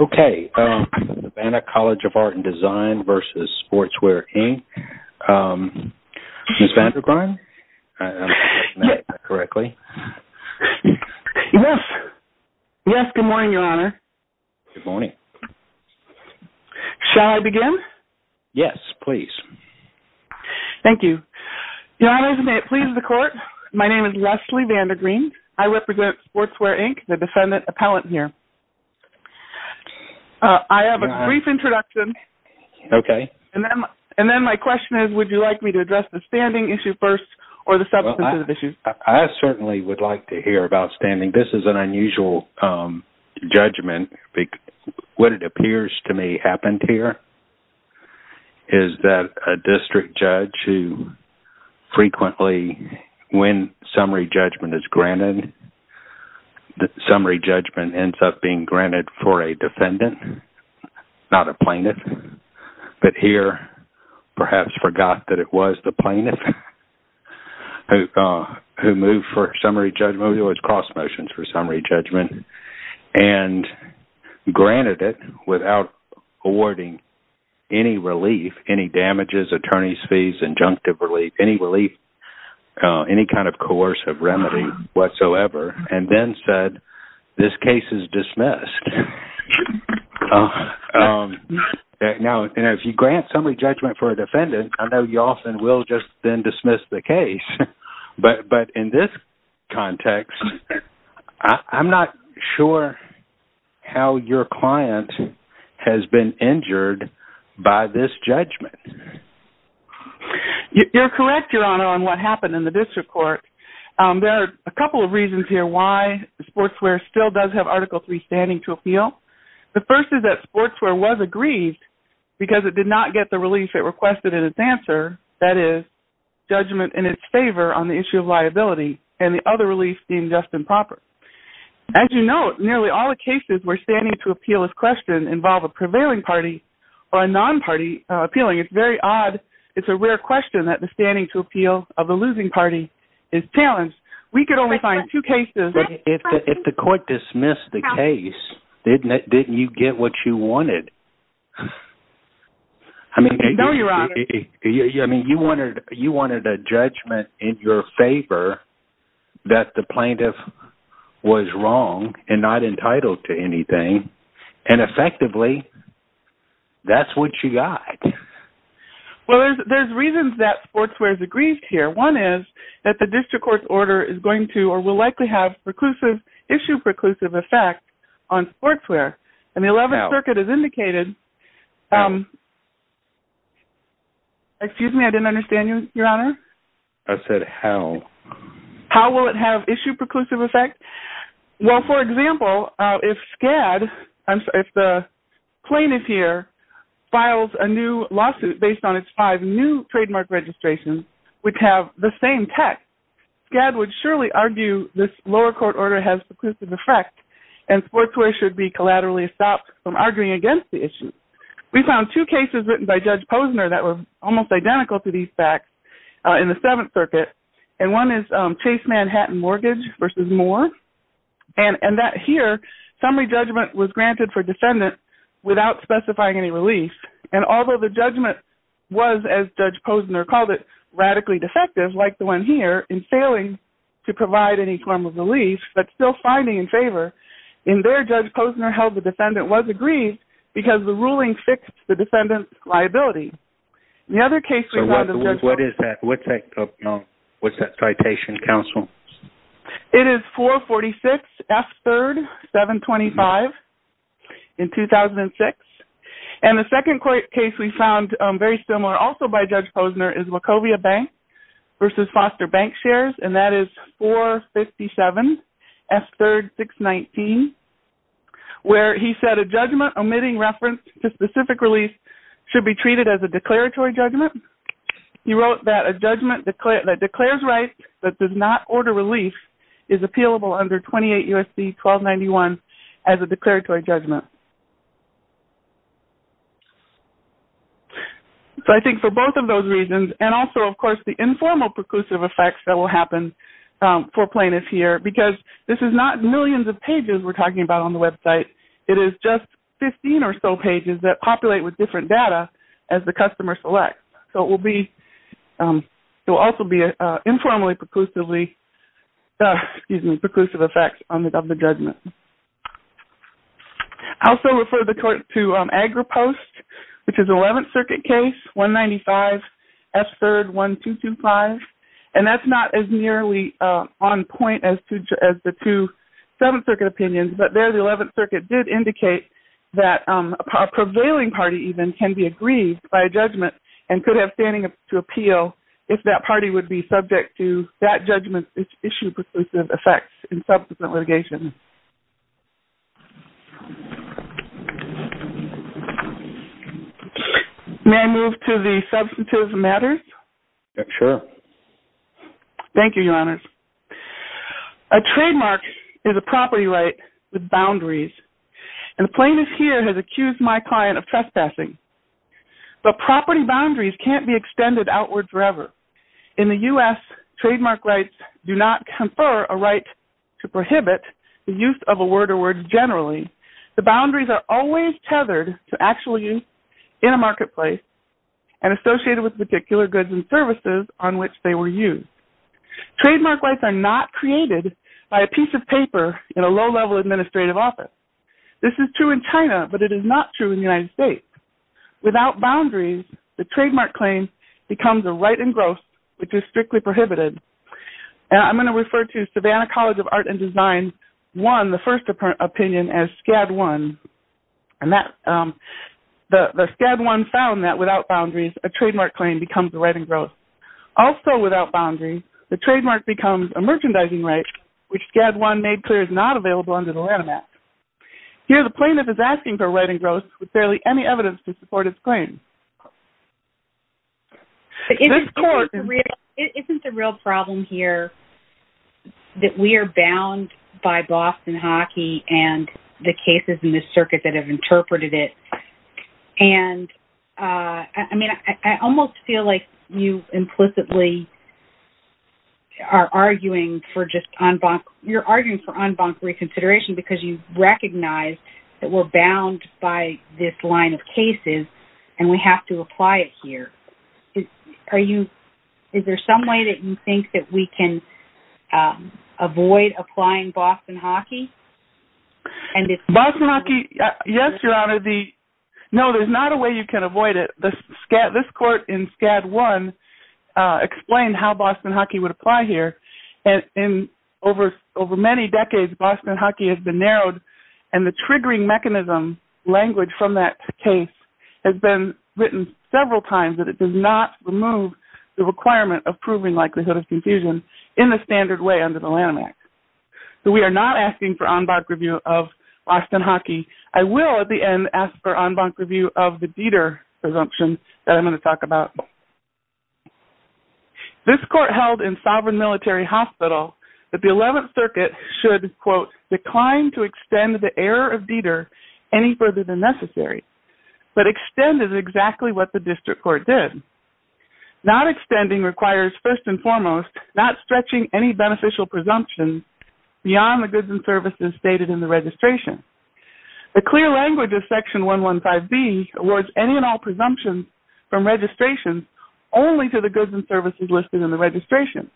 Okay, the Vanna College of Art and Design v. Sportswear, Inc., Ms. Vandegrein, if I'm pronouncing that correctly. Yes, yes, good morning, Your Honor. Good morning. Shall I begin? Yes, please. Thank you. Your Honor, as it pleases the Court, my name is Leslie Vandegrein. I represent Sportswear, Inc., the defendant appellant here. I have a brief introduction. Okay. And then my question is, would you like me to address the standing issue first or the substantive issue first? I certainly would like to hear about standing. This is an unusual judgment. What it appears to me happened here is that a district judge who frequently, when summary judgment is granted, the summary judgment ends up being granted for a defendant, not a plaintiff, but here perhaps forgot that it was the plaintiff who moved for summary judgment. It was cross motions for summary judgment. And granted it without awarding any relief, any damages, attorney's fees, injunctive relief, any relief, any kind of coercive remedy whatsoever, and then said, this case is dismissed. Now, if you grant summary judgment for a defendant, I know you often will just then dismiss the case. But in this context, I'm not sure how your client has been injured by this judgment. You're correct, Your Honor, on what happened in the district court. There are a couple of reasons here why Sportswear still does have Article III standing to appeal. The first is that Sportswear was aggrieved because it did not get the relief it requested in its answer, that is, judgment in its favor on the issue of liability, and the other relief seemed just and proper. As you note, nearly all the cases where standing to appeal is questioned involve a prevailing party or a non-party appealing. It's very odd. It's a rare question that the standing to appeal of the losing party is challenged. We could only find two cases. But if the court dismissed the case, didn't you get what you wanted? No, Your Honor. I mean, you wanted a judgment in your favor that the plaintiff was wrong and not entitled to anything. And effectively, that's what you got. Well, there's reasons that Sportswear is aggrieved here. One is that the district court's order is going to or will likely have issue preclusive effect on Sportswear. And the 11th Circuit has indicated... Excuse me, I didn't understand you, Your Honor. I said how. How will it have issue preclusive effect? Well, for example, if SCAD, if the plaintiff here files a new lawsuit based on its five new trademark registrations, which have the same text, SCAD would surely argue this lower court order has preclusive effect and Sportswear should be collaterally stopped from arguing against the issue. We found two cases written by Judge Posner that were almost identical to these facts in the 7th Circuit. And one is Chase Manhattan Mortgage v. Moore. And that here, summary judgment was granted for defendants without specifying any relief. And although the judgment was, as Judge Posner called it, radically defective, like the one here, in failing to provide any form of relief but still finding in favor, in there, Judge Posner held the defendant was aggrieved because the ruling fixed the defendant's liability. The other case we found in Judge Posner... What is that? What's that citation, counsel? It is 446F3-725 in 2006. And the second case we found very similar also by Judge Posner is Wachovia Bank v. Foster Bank Shares, and that is 457F3-619, where he said a judgment omitting reference to specific relief should be treated as a declaratory judgment. He wrote that a judgment that declares rights but does not order relief is appealable under 28 U.S.C. 1291 as a declaratory judgment. So I think for both of those reasons and also, of course, the informal preclusive effects that will happen for plaintiffs here, because this is not millions of pages we're talking about on the website. It is just 15 or so pages that populate with different data as the customer selects. So it will also be informally preclusive effects of the judgment. I also refer the court to AgriPost, which is the 11th Circuit case, 195F3-1225, and that's not as nearly on point as the two 7th Circuit opinions, but there the 11th Circuit did indicate that a prevailing party even can be aggrieved by a judgment and could have standing to appeal if that party would be subject to that judgment's issued preclusive effects in subsequent litigation. May I move to the substantive matters? Sure. Thank you, Your Honors. A trademark is a property right with boundaries, and the plaintiff here has accused my client of trespassing. But property boundaries can't be extended outwards forever. In the U.S., trademark rights do not confer a right to prohibit the use of a word or word generally. The boundaries are always tethered to actual use in a marketplace and associated with particular goods and services on which they were used. Trademark rights are not created by a piece of paper in a low-level administrative office. This is true in China, but it is not true in the United States. Without boundaries, the trademark claim becomes a right in gross, which is strictly prohibited. I'm going to refer to Savannah College of Art and Design's first opinion as SCAD 1. The SCAD 1 found that without boundaries, a trademark claim becomes a right in gross. Also without boundaries, the trademark becomes a merchandising right, which SCAD 1 made clear is not available under the Lanham Act. Here, the plaintiff is asking for a right in gross with barely any evidence to support his claim. Isn't the real problem here that we are bound by Boston Hockey and the cases in this circuit that have interpreted it? I almost feel like you implicitly are arguing for en banc reconsideration because you recognize that we're bound by this line of cases and we have to apply it here. Is there some way that you think that we can avoid applying Boston Hockey? Boston Hockey, yes, Your Honor. No, there's not a way you can avoid it. This court in SCAD 1 explained how Boston Hockey would apply here. Over many decades, Boston Hockey has been narrowed, and the triggering mechanism language from that case has been written several times that it does not remove the requirement of proving likelihood of confusion in the standard way under the Lanham Act. We are not asking for en banc review of Boston Hockey. I will, at the end, ask for en banc review of the Dieter presumption that I'm going to talk about. This court held in Sovereign Military Hospital that the 11th Circuit should quote, decline to extend the error of Dieter any further than necessary, but extended exactly what the district court did. Not extending requires, first and foremost, not stretching any beneficial presumption beyond the goods and services stated in the registration. The clear language of Section 115B awards any and all presumptions from registration only to the goods and services listed in the registration.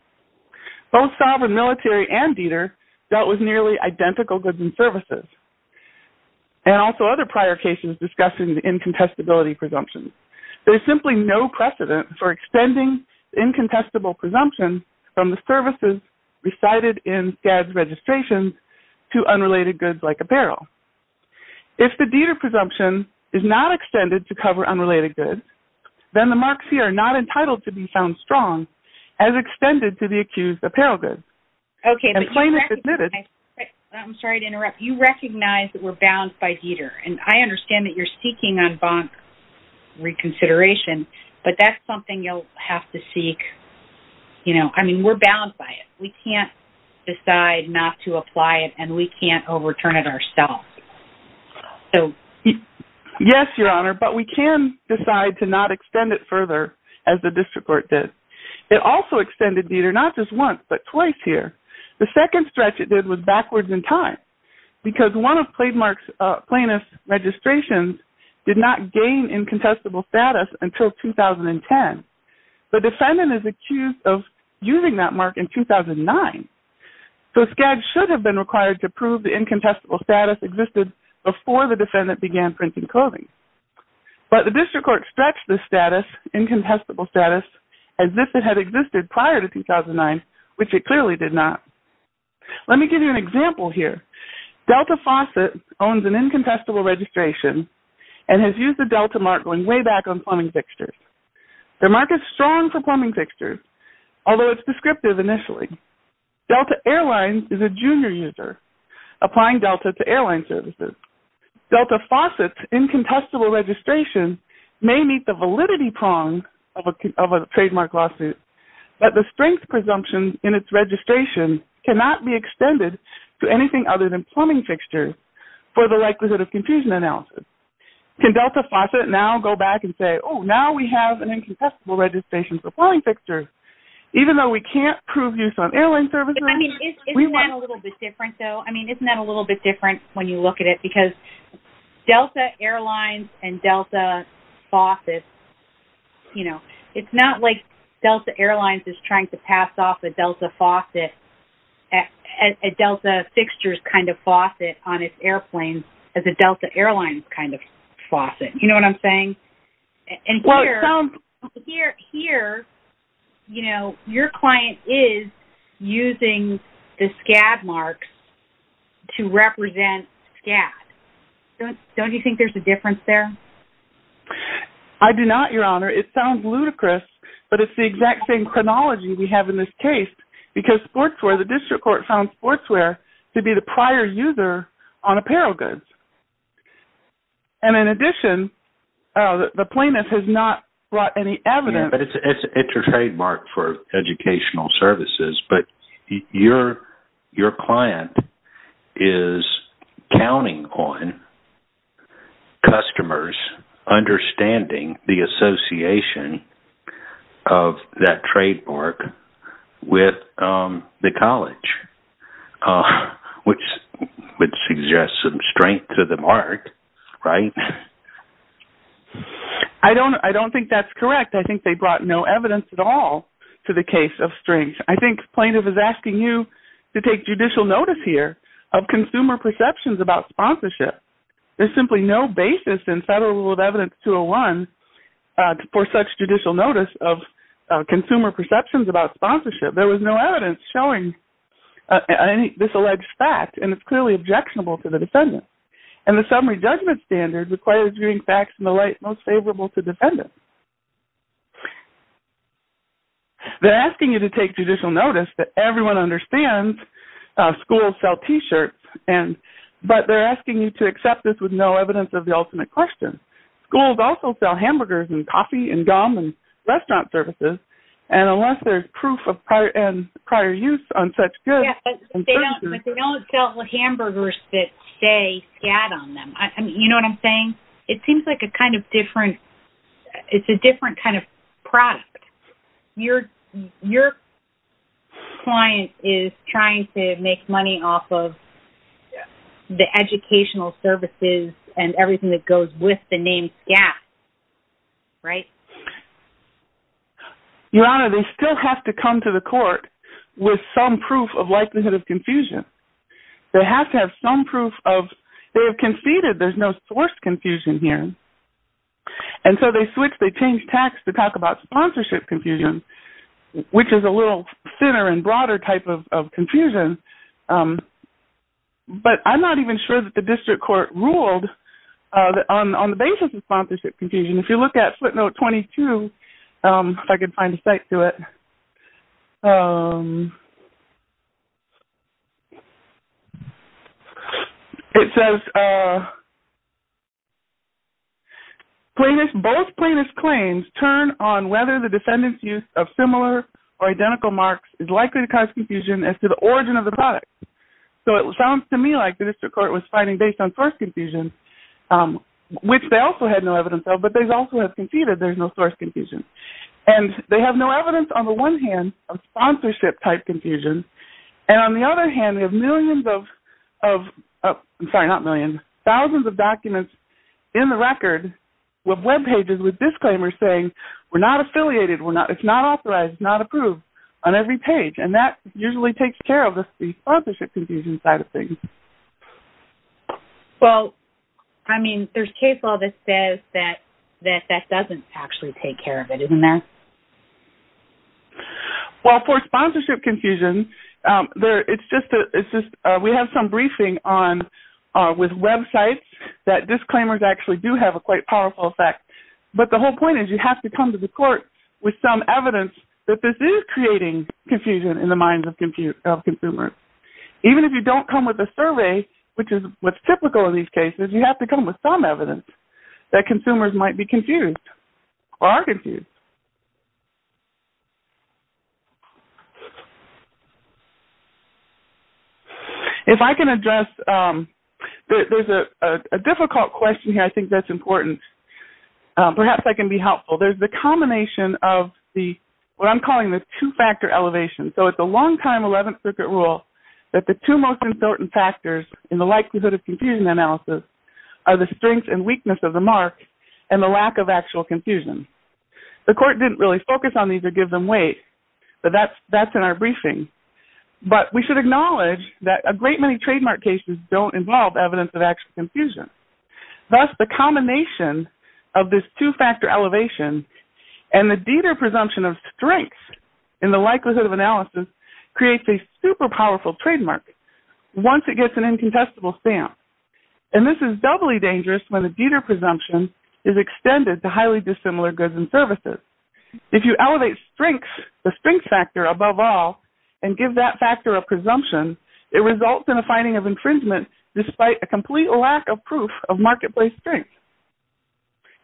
Both Sovereign Military and Dieter dealt with nearly identical goods and services, and also other prior cases discussing the incontestability presumption. There's simply no precedent for extending incontestable presumption from the services recited in SCAD's registration to unrelated goods like apparel. If the Dieter presumption is not extended to cover unrelated goods, then the marks here are not entitled to be found strong as extended to the accused apparel goods. Okay, but you recognize... And plaintiff admitted... I'm sorry to interrupt. You recognize that we're bound by Dieter, and I understand that you're seeking en banc reconsideration, but that's something you'll have to seek. I mean, we're bound by it. We can't decide not to apply it, and we can't overturn it ourselves. Yes, Your Honor, but we can decide to not extend it further as the district court did. It also extended Dieter not just once, but twice here. The second stretch it did was backwards in time, because one of plaintiff's registrations did not gain incontestable status until 2010. The defendant is accused of using that mark in 2009, so SCAD should have been required to prove the incontestable status existed before the defendant began printing clothing. But the district court stretched the status, incontestable status, as if it had existed prior to 2009, which it clearly did not. Let me give you an example here. Delta Faucet owns an incontestable registration and has used the Delta mark going way back on plumbing fixtures. The mark is strong for plumbing fixtures, although it's descriptive initially. Delta Airlines is a junior user applying Delta to airline services. Delta Faucet's incontestable registration may meet the validity prong of a trademark lawsuit, but the strength presumption in its registration cannot be extended to anything other than plumbing fixtures for the likelihood of confusion analysis. Can Delta Faucet now go back and say, oh, now we have an incontestable registration for plumbing fixtures, even though we can't prove use on airline services? Isn't that a little bit different, though? I mean, isn't that a little bit different when you look at it? Because Delta Airlines and Delta Faucet, you know, it's not like Delta Airlines is trying to pass off a Delta Faucet, a Delta fixtures kind of faucet on its airplanes as a Delta Airlines kind of faucet. You know what I'm saying? Well, it sounds... Here, you know, your client is using the SCAD marks to represent SCAD. Don't you think there's a difference there? I do not, Your Honor. It sounds ludicrous, but it's the exact same chronology we have in this case because sportswear, the district court found sportswear to be the prior user on apparel goods. And in addition, the plaintiff has not brought any evidence. Yeah, but it's a trademark for educational services, but your client is counting on customers understanding the association of that trademark with the college, which suggests some strength to the mark, right? I don't think that's correct. I think they brought no evidence at all to the case of strings. I think plaintiff is asking you to take judicial notice here of consumer perceptions about sponsorship. There's simply no basis in Federal Rule of Evidence 201 for such judicial notice of consumer perceptions about sponsorship. There was no evidence showing this alleged fact, and it's clearly objectionable to the defendant. And the summary judgment standard requires viewing facts in the light most favorable to defendants. They're asking you to take judicial notice that everyone understands schools sell T-shirts, but they're asking you to accept this with no evidence of the ultimate question. Schools also sell hamburgers and coffee and gum and restaurant services, and unless there's proof of prior use on such goods and services. Yeah, but they don't sell hamburgers that say SCAD on them. You know what I'm saying? It seems like a kind of different – it's a different kind of product. Your client is trying to make money off of the educational services and everything that goes with the name SCAD, right? Your Honor, they still have to come to the court with some proof of likelihood of confusion. They have to have some proof of – they have conceded there's no source confusion here, and so they switch – they change tax to talk about sponsorship confusion, which is a little thinner and broader type of confusion. But I'm not even sure that the district court ruled on the basis of sponsorship confusion. If you look at footnote 22, if I can find a cite to it, it says, both plaintiffs' claims turn on whether the defendant's use of similar or identical marks is likely to cause confusion as to the origin of the product. So it sounds to me like the district court was fighting based on source confusion, which they also had no evidence of, but they also have conceded there's no source confusion. And they have no evidence, on the one hand, of sponsorship-type confusion, and on the other hand, they have millions of – I'm sorry, not millions – thousands of documents in the record with webpages with disclaimers saying, we're not affiliated, it's not authorized, it's not approved on every page, and that usually takes care of the sponsorship confusion side of things. Well, I mean, there's case law that says that that doesn't actually take care of it, isn't there? Well, for sponsorship confusion, we have some briefing with websites that disclaimers actually do have a quite powerful effect. But the whole point is you have to come to the court with some evidence that this is creating confusion in the minds of consumers. Even if you don't come with a survey, which is what's typical in these cases, you have to come with some evidence that consumers might be confused or are confused. If I can address – there's a difficult question here I think that's important. Perhaps I can be helpful. There's the combination of the – what I'm calling the two-factor elevation. So it's a long-time 11th Circuit rule that the two most important factors in the likelihood of confusion analysis are the strength and weakness of the mark and the lack of actual confusion. The court didn't really focus on these or give them weight, but that's in our briefing. But we should acknowledge that a great many trademark cases don't involve evidence of actual confusion. Thus, the combination of this two-factor elevation and the Dieter presumption of strength in the likelihood of analysis creates a super powerful trademark once it gets an incontestable stamp. And this is doubly dangerous when the Dieter presumption is extended to highly dissimilar goods and services. If you elevate strength, the strength factor above all, and give that factor of presumption, it results in a finding of infringement despite a complete lack of proof of marketplace strength.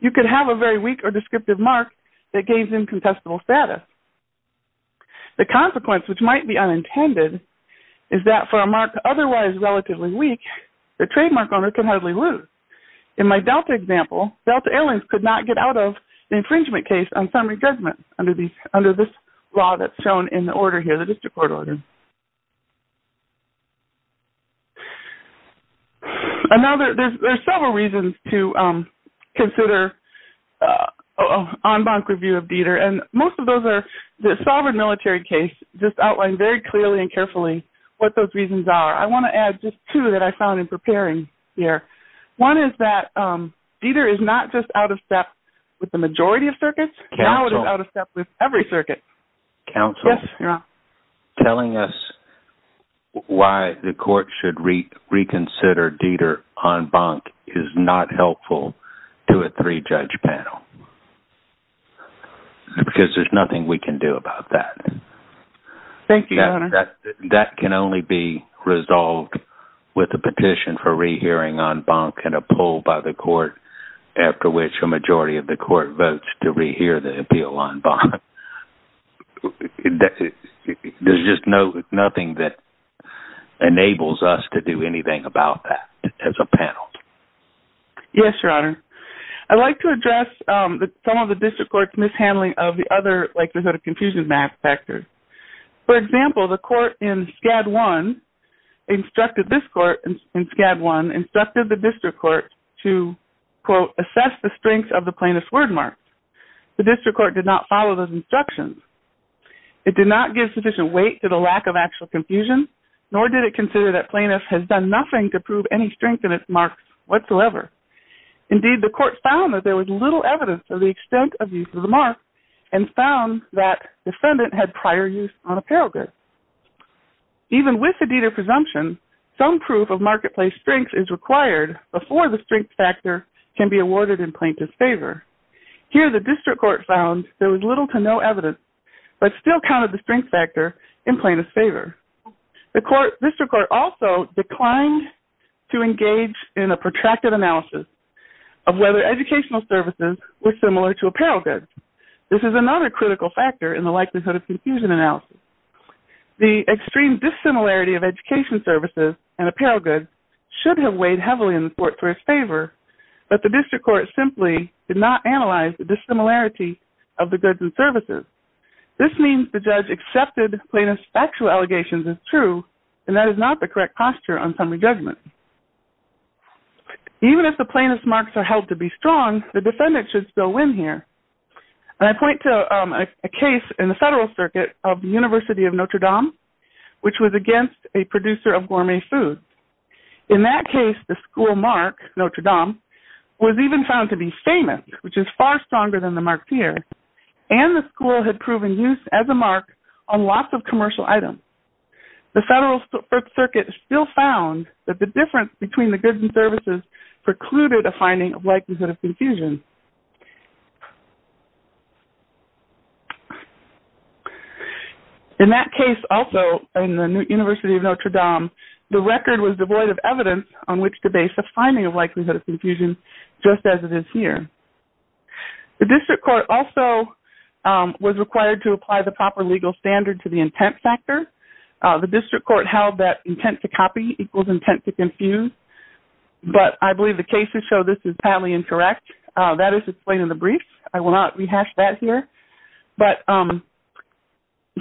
You could have a very weak or descriptive mark that gains incontestable status. The consequence, which might be unintended, is that for a mark otherwise relatively weak, the trademark owner can hardly lose. In my Delta example, Delta Airlines could not get out of the infringement case on summary judgment under this law that's shown in the order here, the district court order. There are several reasons to consider an en banc review of Dieter. And most of those are the sovereign military case, just outlined very clearly and carefully what those reasons are. I want to add just two that I found in preparing here. One is that Dieter is not just out of step with the majority of circuits. Now it is out of step with every circuit. Counsel, telling us why the court should reconsider Dieter en banc is not helpful to a three-judge panel. Because there's nothing we can do about that. Thank you, Your Honor. That can only be resolved with a petition for rehearing en banc and a poll by the court after which a majority of the court votes to rehear the appeal en banc. There's just nothing that enables us to do anything about that as a panel. Yes, Your Honor. I'd like to address some of the district court's mishandling of the other likelihood of confusion factors. For example, the court in SCAD I instructed this court in SCAD I instructed the district court to, quote, assess the strength of the plaintiff's word mark. The district court did not follow those instructions. It did not give sufficient weight to the lack of actual confusion, nor did it consider that plaintiff has done nothing to prove any strength in its marks whatsoever. Indeed, the court found that there was little evidence of the extent of use of the mark and found that defendant had prior use on apparel goods. Even with the Dieter presumption, some proof of marketplace strength is required before the strength factor can be awarded in plaintiff's favor. Here, the district court found there was little to no evidence, but still counted the strength factor in plaintiff's favor. The district court also declined to engage in a protracted analysis of whether educational services were similar to apparel goods. This is another critical factor in the likelihood of confusion analysis. The extreme dissimilarity of education services and apparel goods should have weighed heavily in the court's favor, but the district court simply did not analyze the dissimilarity of the goods and services. This means the judge accepted plaintiff's factual allegations as true, and that is not the correct posture on summary judgment. Even if the plaintiff's marks are held to be strong, the defendant should still win here. I point to a case in the Federal Circuit of the University of Notre Dame, which was against a producer of gourmet food. In that case, the school mark, Notre Dame, was even found to be famous, which is far stronger than the mark here, and the school had proven use as a mark on lots of commercial items. The Federal Circuit still found that the difference between the goods and services precluded a finding of likelihood of confusion. In that case also, in the University of Notre Dame, the record was devoid of evidence on which to base a finding of likelihood of confusion, just as it is here. The district court also was required to apply the proper legal standard to the intent factor. The district court held that intent to copy equals intent to confuse, but I believe the cases show this is entirely incorrect. That is explained in the brief. I will not rehash that here.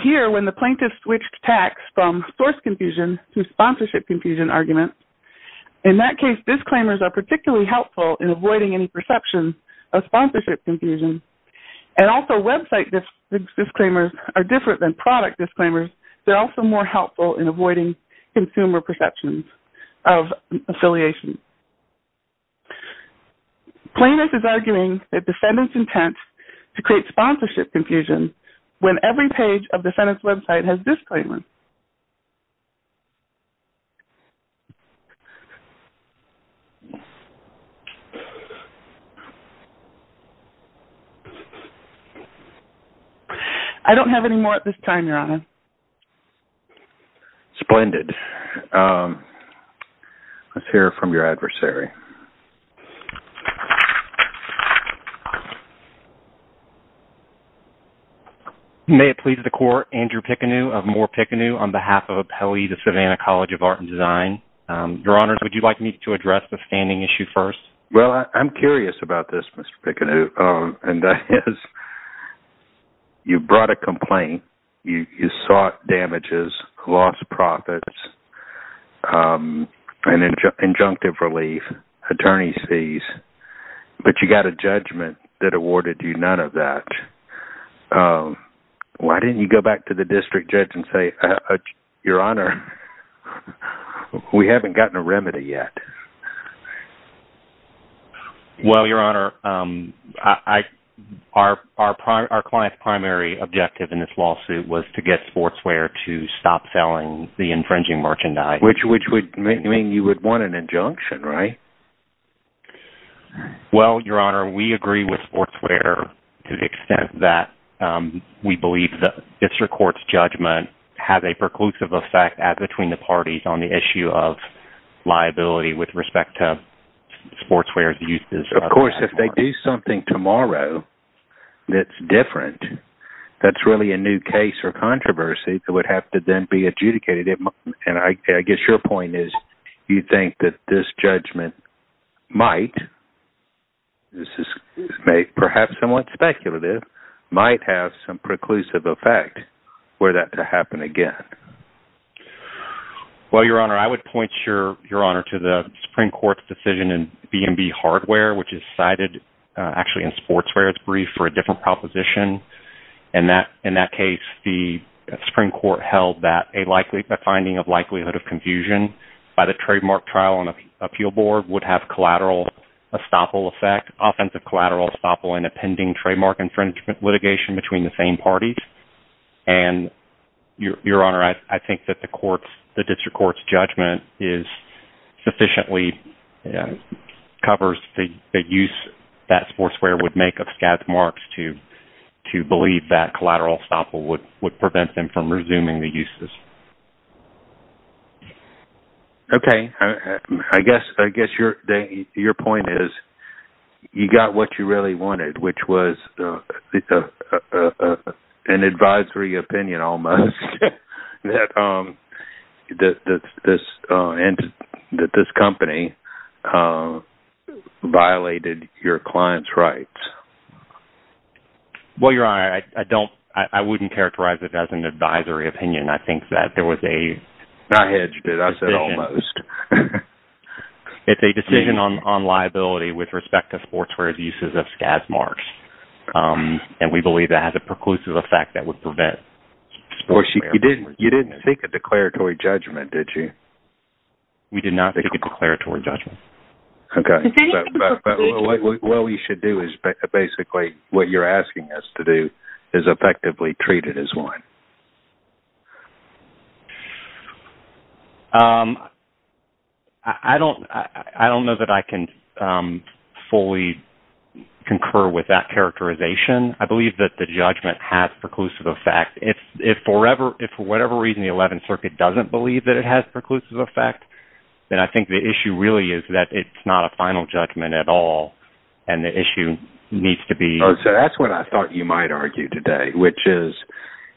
Here, when the plaintiff switched tax from source confusion to sponsorship confusion argument, in that case, disclaimers are particularly helpful in avoiding any perception of sponsorship confusion. Also, website disclaimers are different than product disclaimers. They are also more helpful in avoiding consumer perceptions of affiliation. Plaintiff is arguing that the defendant's intent to create sponsorship confusion when every page of the defendant's website has disclaimers. I don't have any more at this time, Your Honor. Splendid. Let's hear from your adversary. Well, I'm curious about this, Mr. Picanu, and that is, you brought a complaint. You sought damages, lost profits, and injunctive relief, attorney's fees, but you got a judgment that awarded you none of that. Why didn't you go back to the district judge and say, Your Honor, we haven't gotten a remedy yet? Well, Your Honor, our client's primary objective in this lawsuit was to get Sportswear to stop selling the infringing merchandise. Which would mean you would want an injunction, right? Well, Your Honor, we agree with Sportswear to the extent that we believe that this court's judgment has a preclusive effect between the parties on the issue of liability with respect to Sportswear's use. Of course, if they do something tomorrow that's different, that's really a new case or controversy that would have to then be adjudicated. And I guess your point is, you think that this judgment might, this is perhaps somewhat speculative, might have some preclusive effect for that to happen again. Well, Your Honor, I would point Your Honor to the Supreme Court's decision in B&B Hardware, which is cited actually in Sportswear's brief for a different proposition. In that case, the Supreme Court held that a finding of likelihood of confusion by the trademark trial on an appeal board would have collateral estoppel effect, offensive collateral estoppel in a pending trademark infringement litigation between the same parties. And, Your Honor, I think that the District Court's judgment sufficiently covers the use that Sportswear would make of scathe marks to believe that collateral estoppel would prevent them from resuming the uses. Okay. I guess your point is, you got what you really wanted, which was an advisory opinion almost, that this company violated your client's rights. Well, Your Honor, I wouldn't characterize it as an advisory opinion. I think that there was a... I hedged it. I said almost. It's a decision on liability with respect to Sportswear's uses of scathe marks. And we believe that has a preclusive effect that would prevent... You didn't seek a declaratory judgment, did you? We did not seek a declaratory judgment. Okay. What we should do is basically what you're asking us to do is effectively treat it as one. I don't know that I can fully concur with that characterization. I believe that the judgment has preclusive effect. If, for whatever reason, the Eleventh Circuit doesn't believe that it has preclusive effect, then I think the issue really is that it's not a final judgment at all, and the issue needs to be... So that's what I thought you might argue today, which is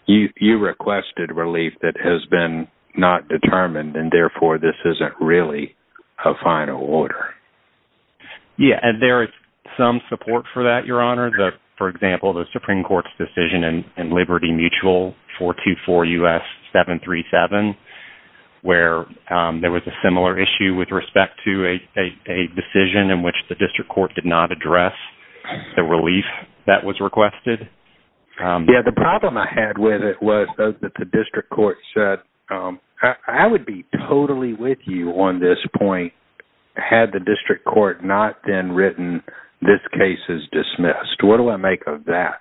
you requested relief that has been not determined, and therefore this isn't really a final order. Yeah, and there is some support for that, Your Honor. For example, the Supreme Court's decision in Liberty Mutual 424 U.S. 737, where there was a similar issue with respect to a decision in which the District Court did not address the relief that was requested. Yeah, the problem I had with it was that the District Court said, I would be totally with you on this point. Had the District Court not then written, this case is dismissed. What do I make of that?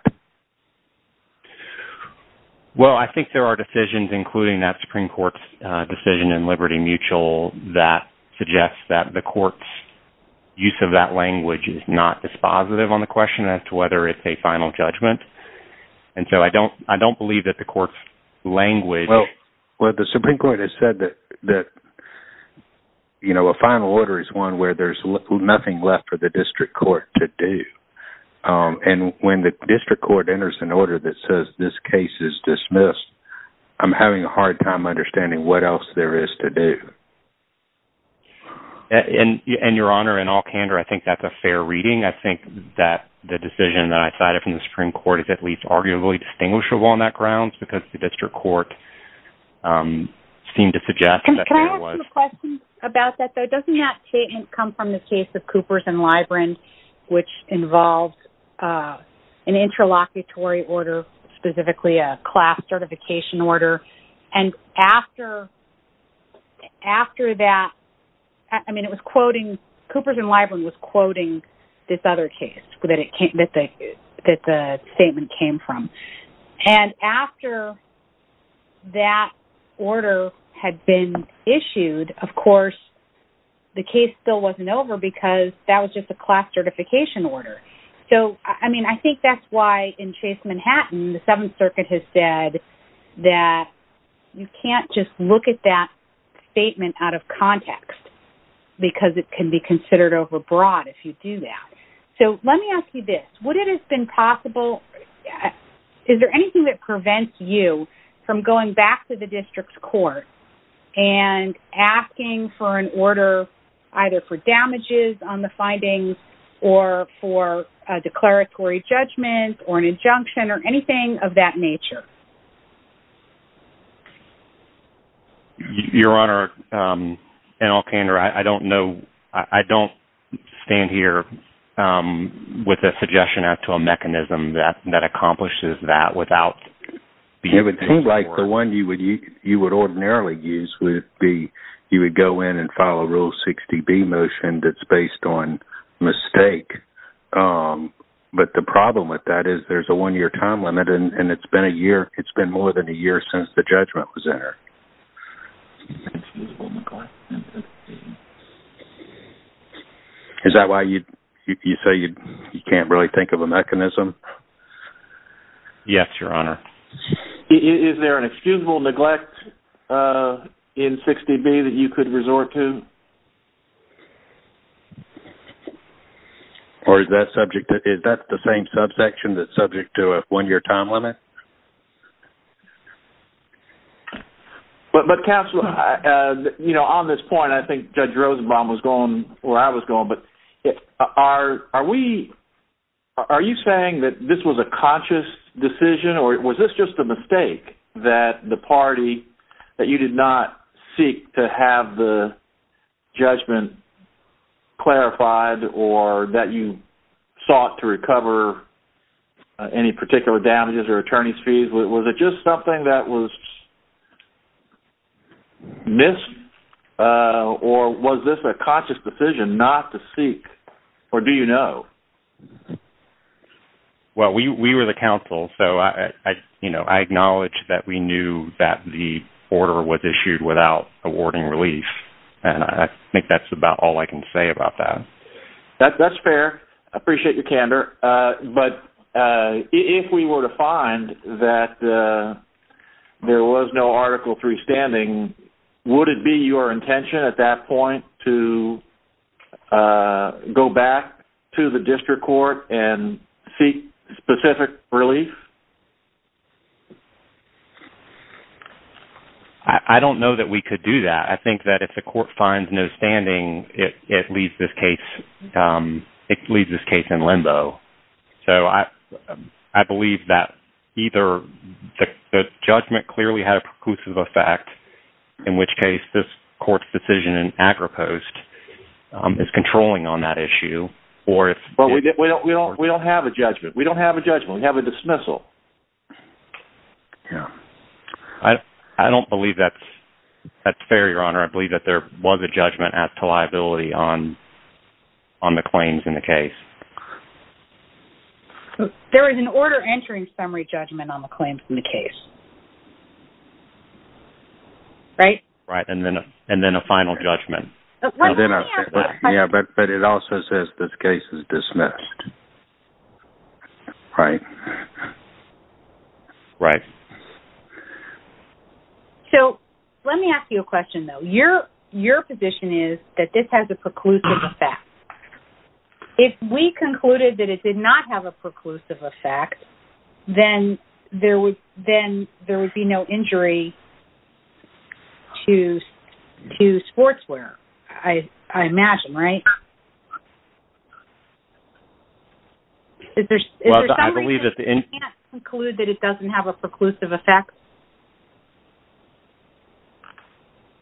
Well, I think there are decisions, including that Supreme Court's decision in Liberty Mutual, that suggests that the Court's use of that language is not dispositive on the question as to whether it's a final judgment. And so I don't believe that the Court's language... Well, the Supreme Court has said that a final order is one where there's nothing left for the District Court to do. And when the District Court enters an order that says this case is dismissed, I'm having a hard time understanding what else there is to do. And, Your Honor, in all candor, I think that's a fair reading. I think that the decision that I cited from the Supreme Court is at least arguably distinguishable on that grounds, because the District Court seemed to suggest that there was... Can I ask you a question about that, though? Doesn't that statement come from the case of Coopers and Libren, which involved an interlocutory order, specifically a class certification order? And after that, I mean, it was quoting... Coopers and Libren was quoting this other case that the statement came from. And after that order had been issued, of course, the case still wasn't over, because that was just a class certification order. So, I mean, I think that's why, in Chase Manhattan, the Seventh Circuit has said that you can't just look at that statement out of context, because it can be considered overbroad if you do that. So let me ask you this. Would it have been possible... Is there anything that prevents you from going back to the District Court and asking for an order either for damages on the findings or for a declaratory judgment or an injunction or anything of that nature? Your Honor, in all candor, I don't know... I don't stand here with a suggestion as to a mechanism that accomplishes that without... It would seem like the one you would ordinarily use would be you would go in and file a Rule 60B motion that's based on mistake. But the problem with that is there's a one-year time limit, and it's been more than a year since the judgment was entered. Excusable neglect in 60B. Is that why you say you can't really think of a mechanism? Yes, Your Honor. Is there an excusable neglect in 60B that you could resort to? Or is that subject... Is that the same subsection that's subject to a one-year time limit? But, counsel, on this point, I think Judge Rosenbaum was going... Well, I was going, but are we... Are you saying that this was a conscious decision, or was this just a mistake that the party... that you did not seek to have the judgment clarified or that you sought to recover any particular damages or attorney's fees? Was it just something that was missed, or was this a conscious decision not to seek, or do you know? Well, we were the counsel, so I acknowledge that we knew that the order was issued without awarding relief, and I think that's about all I can say about that. That's fair. I appreciate your candor. But if we were to find that there was no Article III standing, would it be your intention at that point to go back to the district court and seek specific relief? I don't know that we could do that. I think that if the court finds no standing, it leaves this case in limbo. So I believe that either the judgment clearly had a preclusive effect, in which case this court's decision in AgriPost is controlling on that issue, or if... But we don't have a judgment. We don't have a judgment. We have a dismissal. Yeah. I don't believe that's fair, Your Honor. I believe that there was a judgment as to liability on the claims in the case. There is an order entering summary judgment on the claims in the case. Right? Right. And then a final judgment. Yeah, but it also says this case is dismissed. Right? Right. So let me ask you a question, though. Your position is that this has a preclusive effect. If we concluded that it did not have a preclusive effect, then there would be no injury to Sportswear, I imagine, right? Is there some reason you can't conclude that it doesn't have a preclusive effect?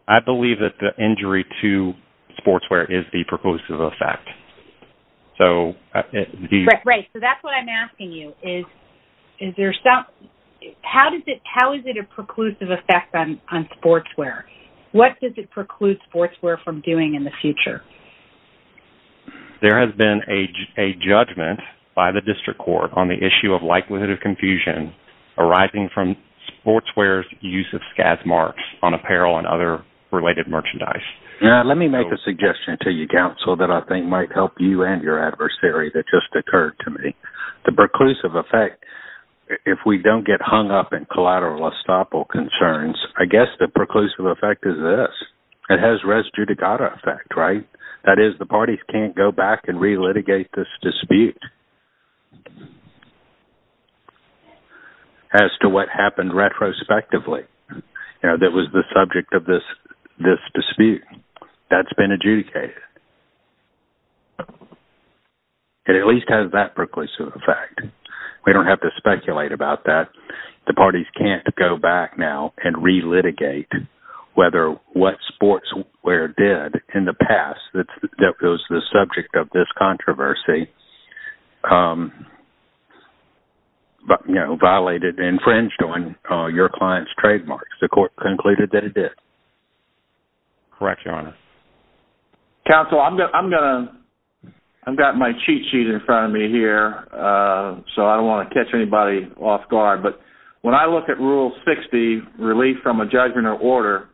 I believe that the injury to Sportswear is the preclusive effect. So... Right. So that's what I'm asking you. Is there some... How is it a preclusive effect on Sportswear? What does it preclude Sportswear from doing in the future? There has been a judgment by the district court on the issue of likelihood of confusion arising from Sportswear using scasm marks on apparel and other related merchandise. Let me make a suggestion to you, Counsel, that I think might help you and your adversary that just occurred to me. The preclusive effect, if we don't get hung up in collateral estoppel concerns, I guess the preclusive effect is this. It has res judicata effect, right? That is, the parties can't go back and re-litigate this dispute. As to what happened retrospectively, you know, that was the subject of this dispute. That's been adjudicated. It at least has that preclusive effect. We don't have to speculate about that. The parties can't go back now and re-litigate whether what Sportswear did in the past that was the subject of this controversy violated and infringed on your client's trademarks. The court concluded that it did. Correct, Your Honor. Counsel, I've got my cheat sheet in front of me here, so I don't want to catch anybody off guard. But when I look at Rule 60, Relief from a Judgment or Order,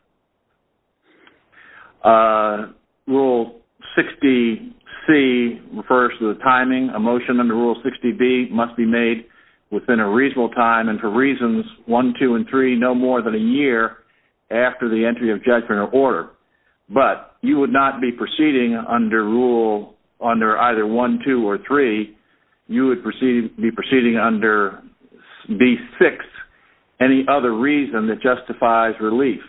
Rule 60C refers to the timing. A motion under Rule 60B must be made within a reasonable time and for reasons 1, 2, and 3 no more than a year after the entry of judgment or order. But you would not be proceeding under either 1, 2, or 3. You would be proceeding under B6, any other reason that justifies relief.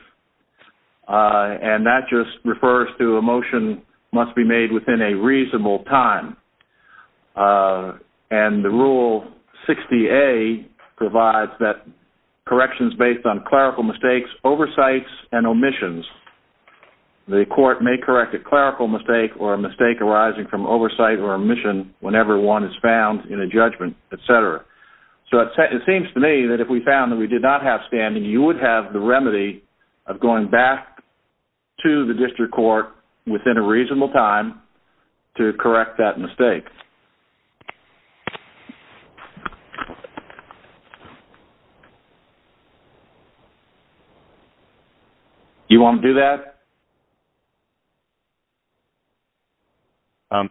And that just refers to a motion must be made within a reasonable time. And the Rule 60A provides that corrections based on clerical mistakes, oversights, and omissions. The court may correct a clerical mistake or a mistake arising from oversight or omission whenever one is found in a judgment, etc. So it seems to me that if we found that we did not have standing, you would have the remedy of going back to the district court within a reasonable time to correct that mistake. Do you want to do that?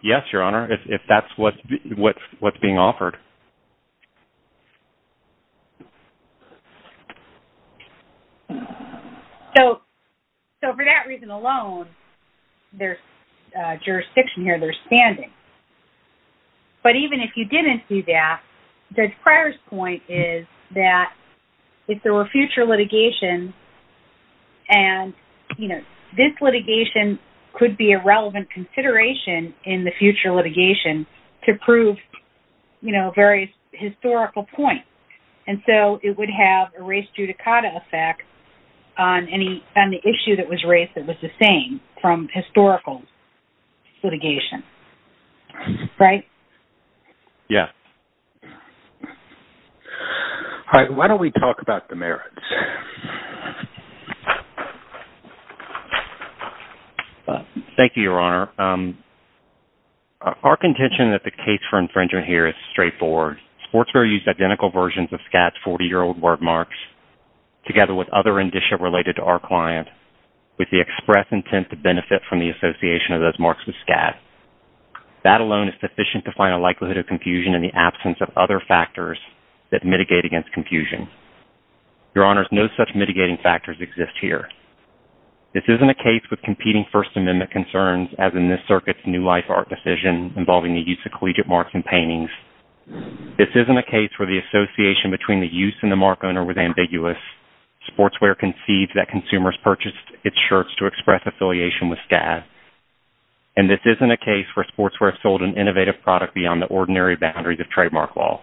Yes, Your Honor, if that's what's being offered. So for that reason alone, there's jurisdiction here, there's standing. But even if you didn't do that, Judge Pryor's point is that if there were future litigation, and this litigation could be a relevant consideration in the future litigation to prove various historical points. And so it would have a race judicata effect on the issue that was raised that was the same from historical litigation. Right? Yes. All right, why don't we talk about the merits? Thank you, Your Honor. Our contention that the case for infringement here is straightforward. Sportswear used identical versions of SCAD's 40-year-old word marks together with other indicia related to our client with the express intent to benefit from the association of those marks with SCAD. That alone is sufficient to find a likelihood of confusion in the absence of other factors that mitigate against confusion. Your Honors, no such mitigating factors exist here. This isn't a case with competing First Amendment concerns as in this circuit's new life art decision involving the use of collegiate marks in paintings. This isn't a case where the association between the use and the mark owner was ambiguous. Sportswear concedes that consumers purchased its shirts to express affiliation with SCAD. And this isn't a case where Sportswear sold an innovative product beyond the ordinary boundaries of trademark law.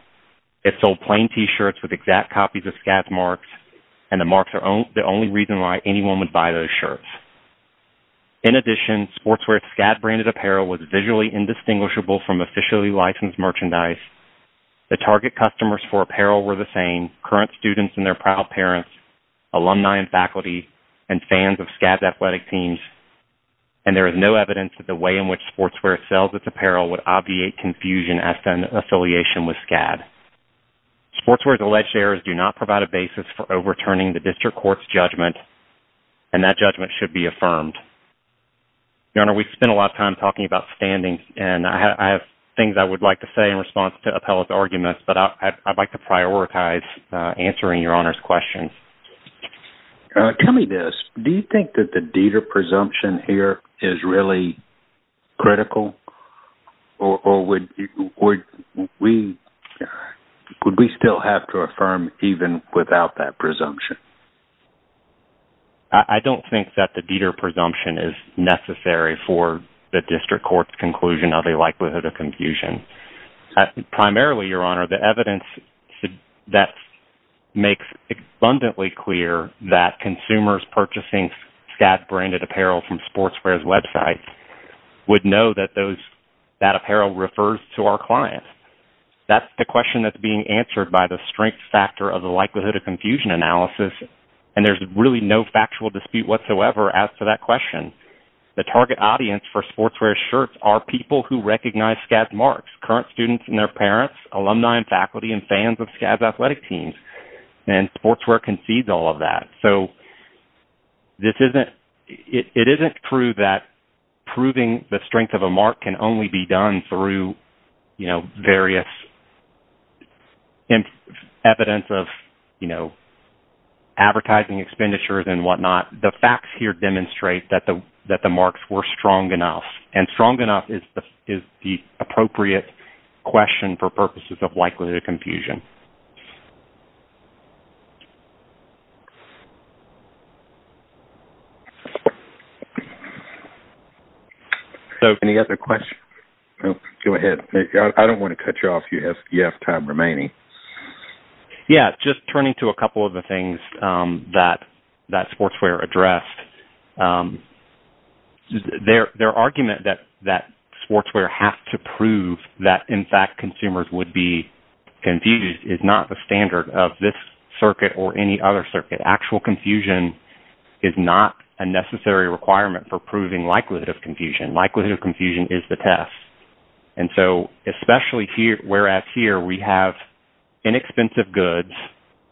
It sold plain t-shirts with exact copies of SCAD's marks, and the marks are the only reason why anyone would buy those shirts. In addition, Sportswear's SCAD-branded apparel was visually indistinguishable from officially licensed merchandise The target customers for apparel were the same, current students and their proud parents, alumni and faculty, and fans of SCAD's athletic teams. And there is no evidence that the way in which Sportswear sells its apparel would obviate confusion as to an affiliation with SCAD. Sportswear's alleged errors do not provide a basis for overturning the district court's judgment, and that judgment should be affirmed. Your Honor, we've spent a lot of time talking about standings, and I have things I would like to say in response to Appellate's arguments, but I'd like to prioritize answering Your Honor's question. Tell me this. Do you think that the Dieter presumption here is really critical? Or would we still have to affirm even without that presumption? I don't think that the Dieter presumption is necessary for the district court's conclusion of the likelihood of confusion. Primarily, Your Honor, the evidence that makes abundantly clear that consumers purchasing SCAD-branded apparel from Sportswear's website would know that that apparel refers to our client. That's the question that's being answered by the strength factor of the likelihood of confusion analysis, and there's really no factual dispute whatsoever as to that question. The target audience for Sportswear's shirts are people who recognize SCAD's marks, current students and their parents, alumni and faculty, and fans of SCAD's athletic teams, and Sportswear concedes all of that. So it isn't true that proving the strength of a mark can only be done through various evidence of advertising expenditures and whatnot. The facts here demonstrate that the marks were strong enough, and strong enough is the appropriate question for purposes of likelihood of confusion. Any other questions? Go ahead. I don't want to cut you off. You have time remaining. Just turning to a couple of the things that Sportswear addressed. Their argument that Sportswear has to prove that, in fact, consumers would be confused is not the standard of this circuit or any other circuit. Actual confusion is not a necessary requirement for proving likelihood of confusion. Likelihood of confusion is the test. Especially whereas here we have inexpensive goods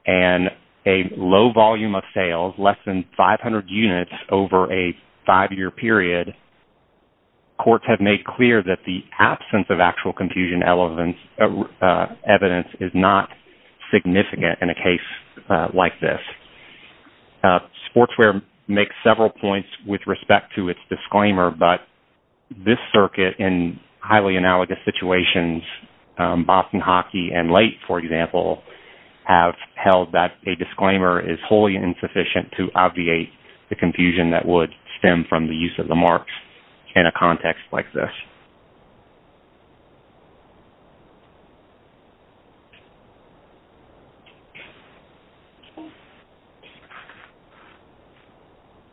and a low volume of sales, less than 500 units over a five-year period, courts have made clear that the absence of actual confusion evidence is not significant in a case like this. Sportswear makes several points with respect to its disclaimer, but this circuit, in highly analogous situations, Boston Hockey and late, for example, have held that a disclaimer is wholly insufficient to obviate the confusion that would stem from the use of the marks in a context like this.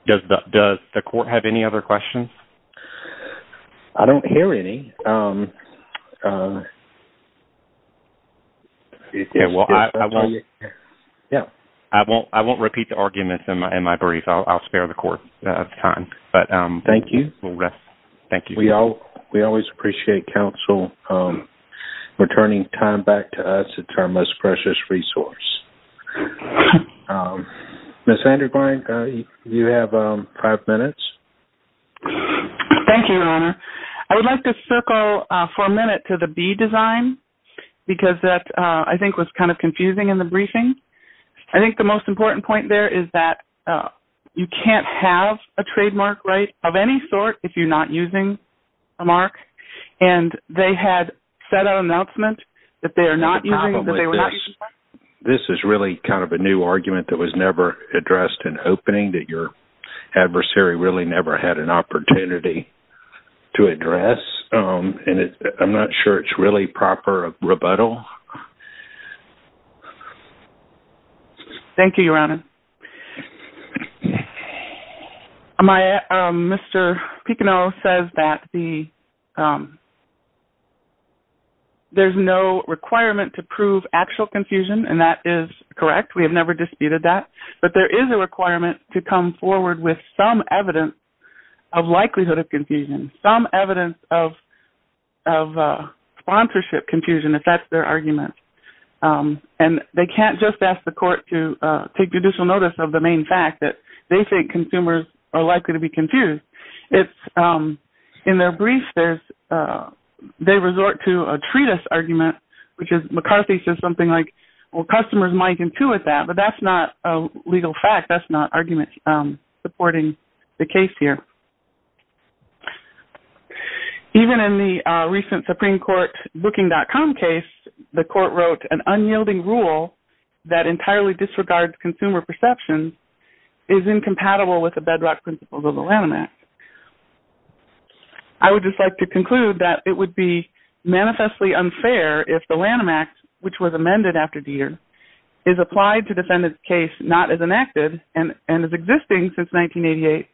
Does the court have any other questions? I don't hear any. Okay. I won't repeat the arguments in my brief. I'll spare the court time. Thank you. We always appreciate counsel returning time back to us. It's our most precious resource. Thank you, Your Honor. I want to go for a minute to the B design because that, I think, was kind of confusing in the briefing. I think the most important point there is that you can't have a trademark right of any sort if you're not using a mark. And they had set out an announcement that they were not using a mark. This is really kind of a new argument that was never addressed in opening that your adversary really never had an opportunity to address. And I'm not sure it's really proper rebuttal. Thank you, Your Honor. Mr. Picano says that the... There's no requirement to prove actual confusion, and that is correct. We have never disputed that. But there is a requirement to come forward with some evidence of likelihood of confusion, some evidence of sponsorship confusion, if that's their argument. And they can't just ask the court to take judicial notice of the main fact that they think consumers are likely to be confused. In their brief, they resort to a treatise argument, which McCarthy says something like, well, customers might intuit that, but that's not a legal fact. That's not argument supporting the case here. Even in the recent Supreme Court booking.com case, the court wrote an unyielding rule that entirely disregards consumer perception is incompatible with the bedrock principles of the Lanham Act. I would just like to conclude that it would be manifestly unfair if the Lanham Act, which was amended after Deter, is applied to defendant's case not as enacted and as existing since 1988,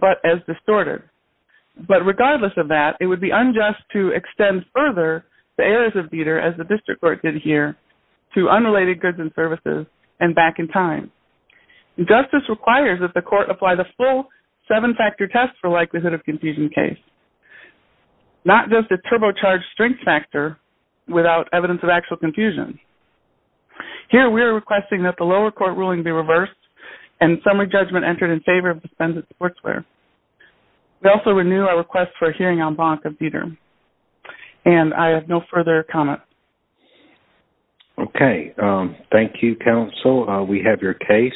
but as distorted. But regardless of that, it would be unjust to extend further the errors of Deter, as the district court did here, to unrelated goods and services and back in time. Justice requires that the court apply the full seven-factor test for likelihood of confusion case, not just a turbocharged strength factor without evidence of actual confusion. Here, we are requesting that the lower court ruling be reversed and summary judgment entered in favor of the defendant's courtswear. We also renew our request for a hearing en banc of Deter. And I have no further comments. Okay. Thank you, counsel. We have your case.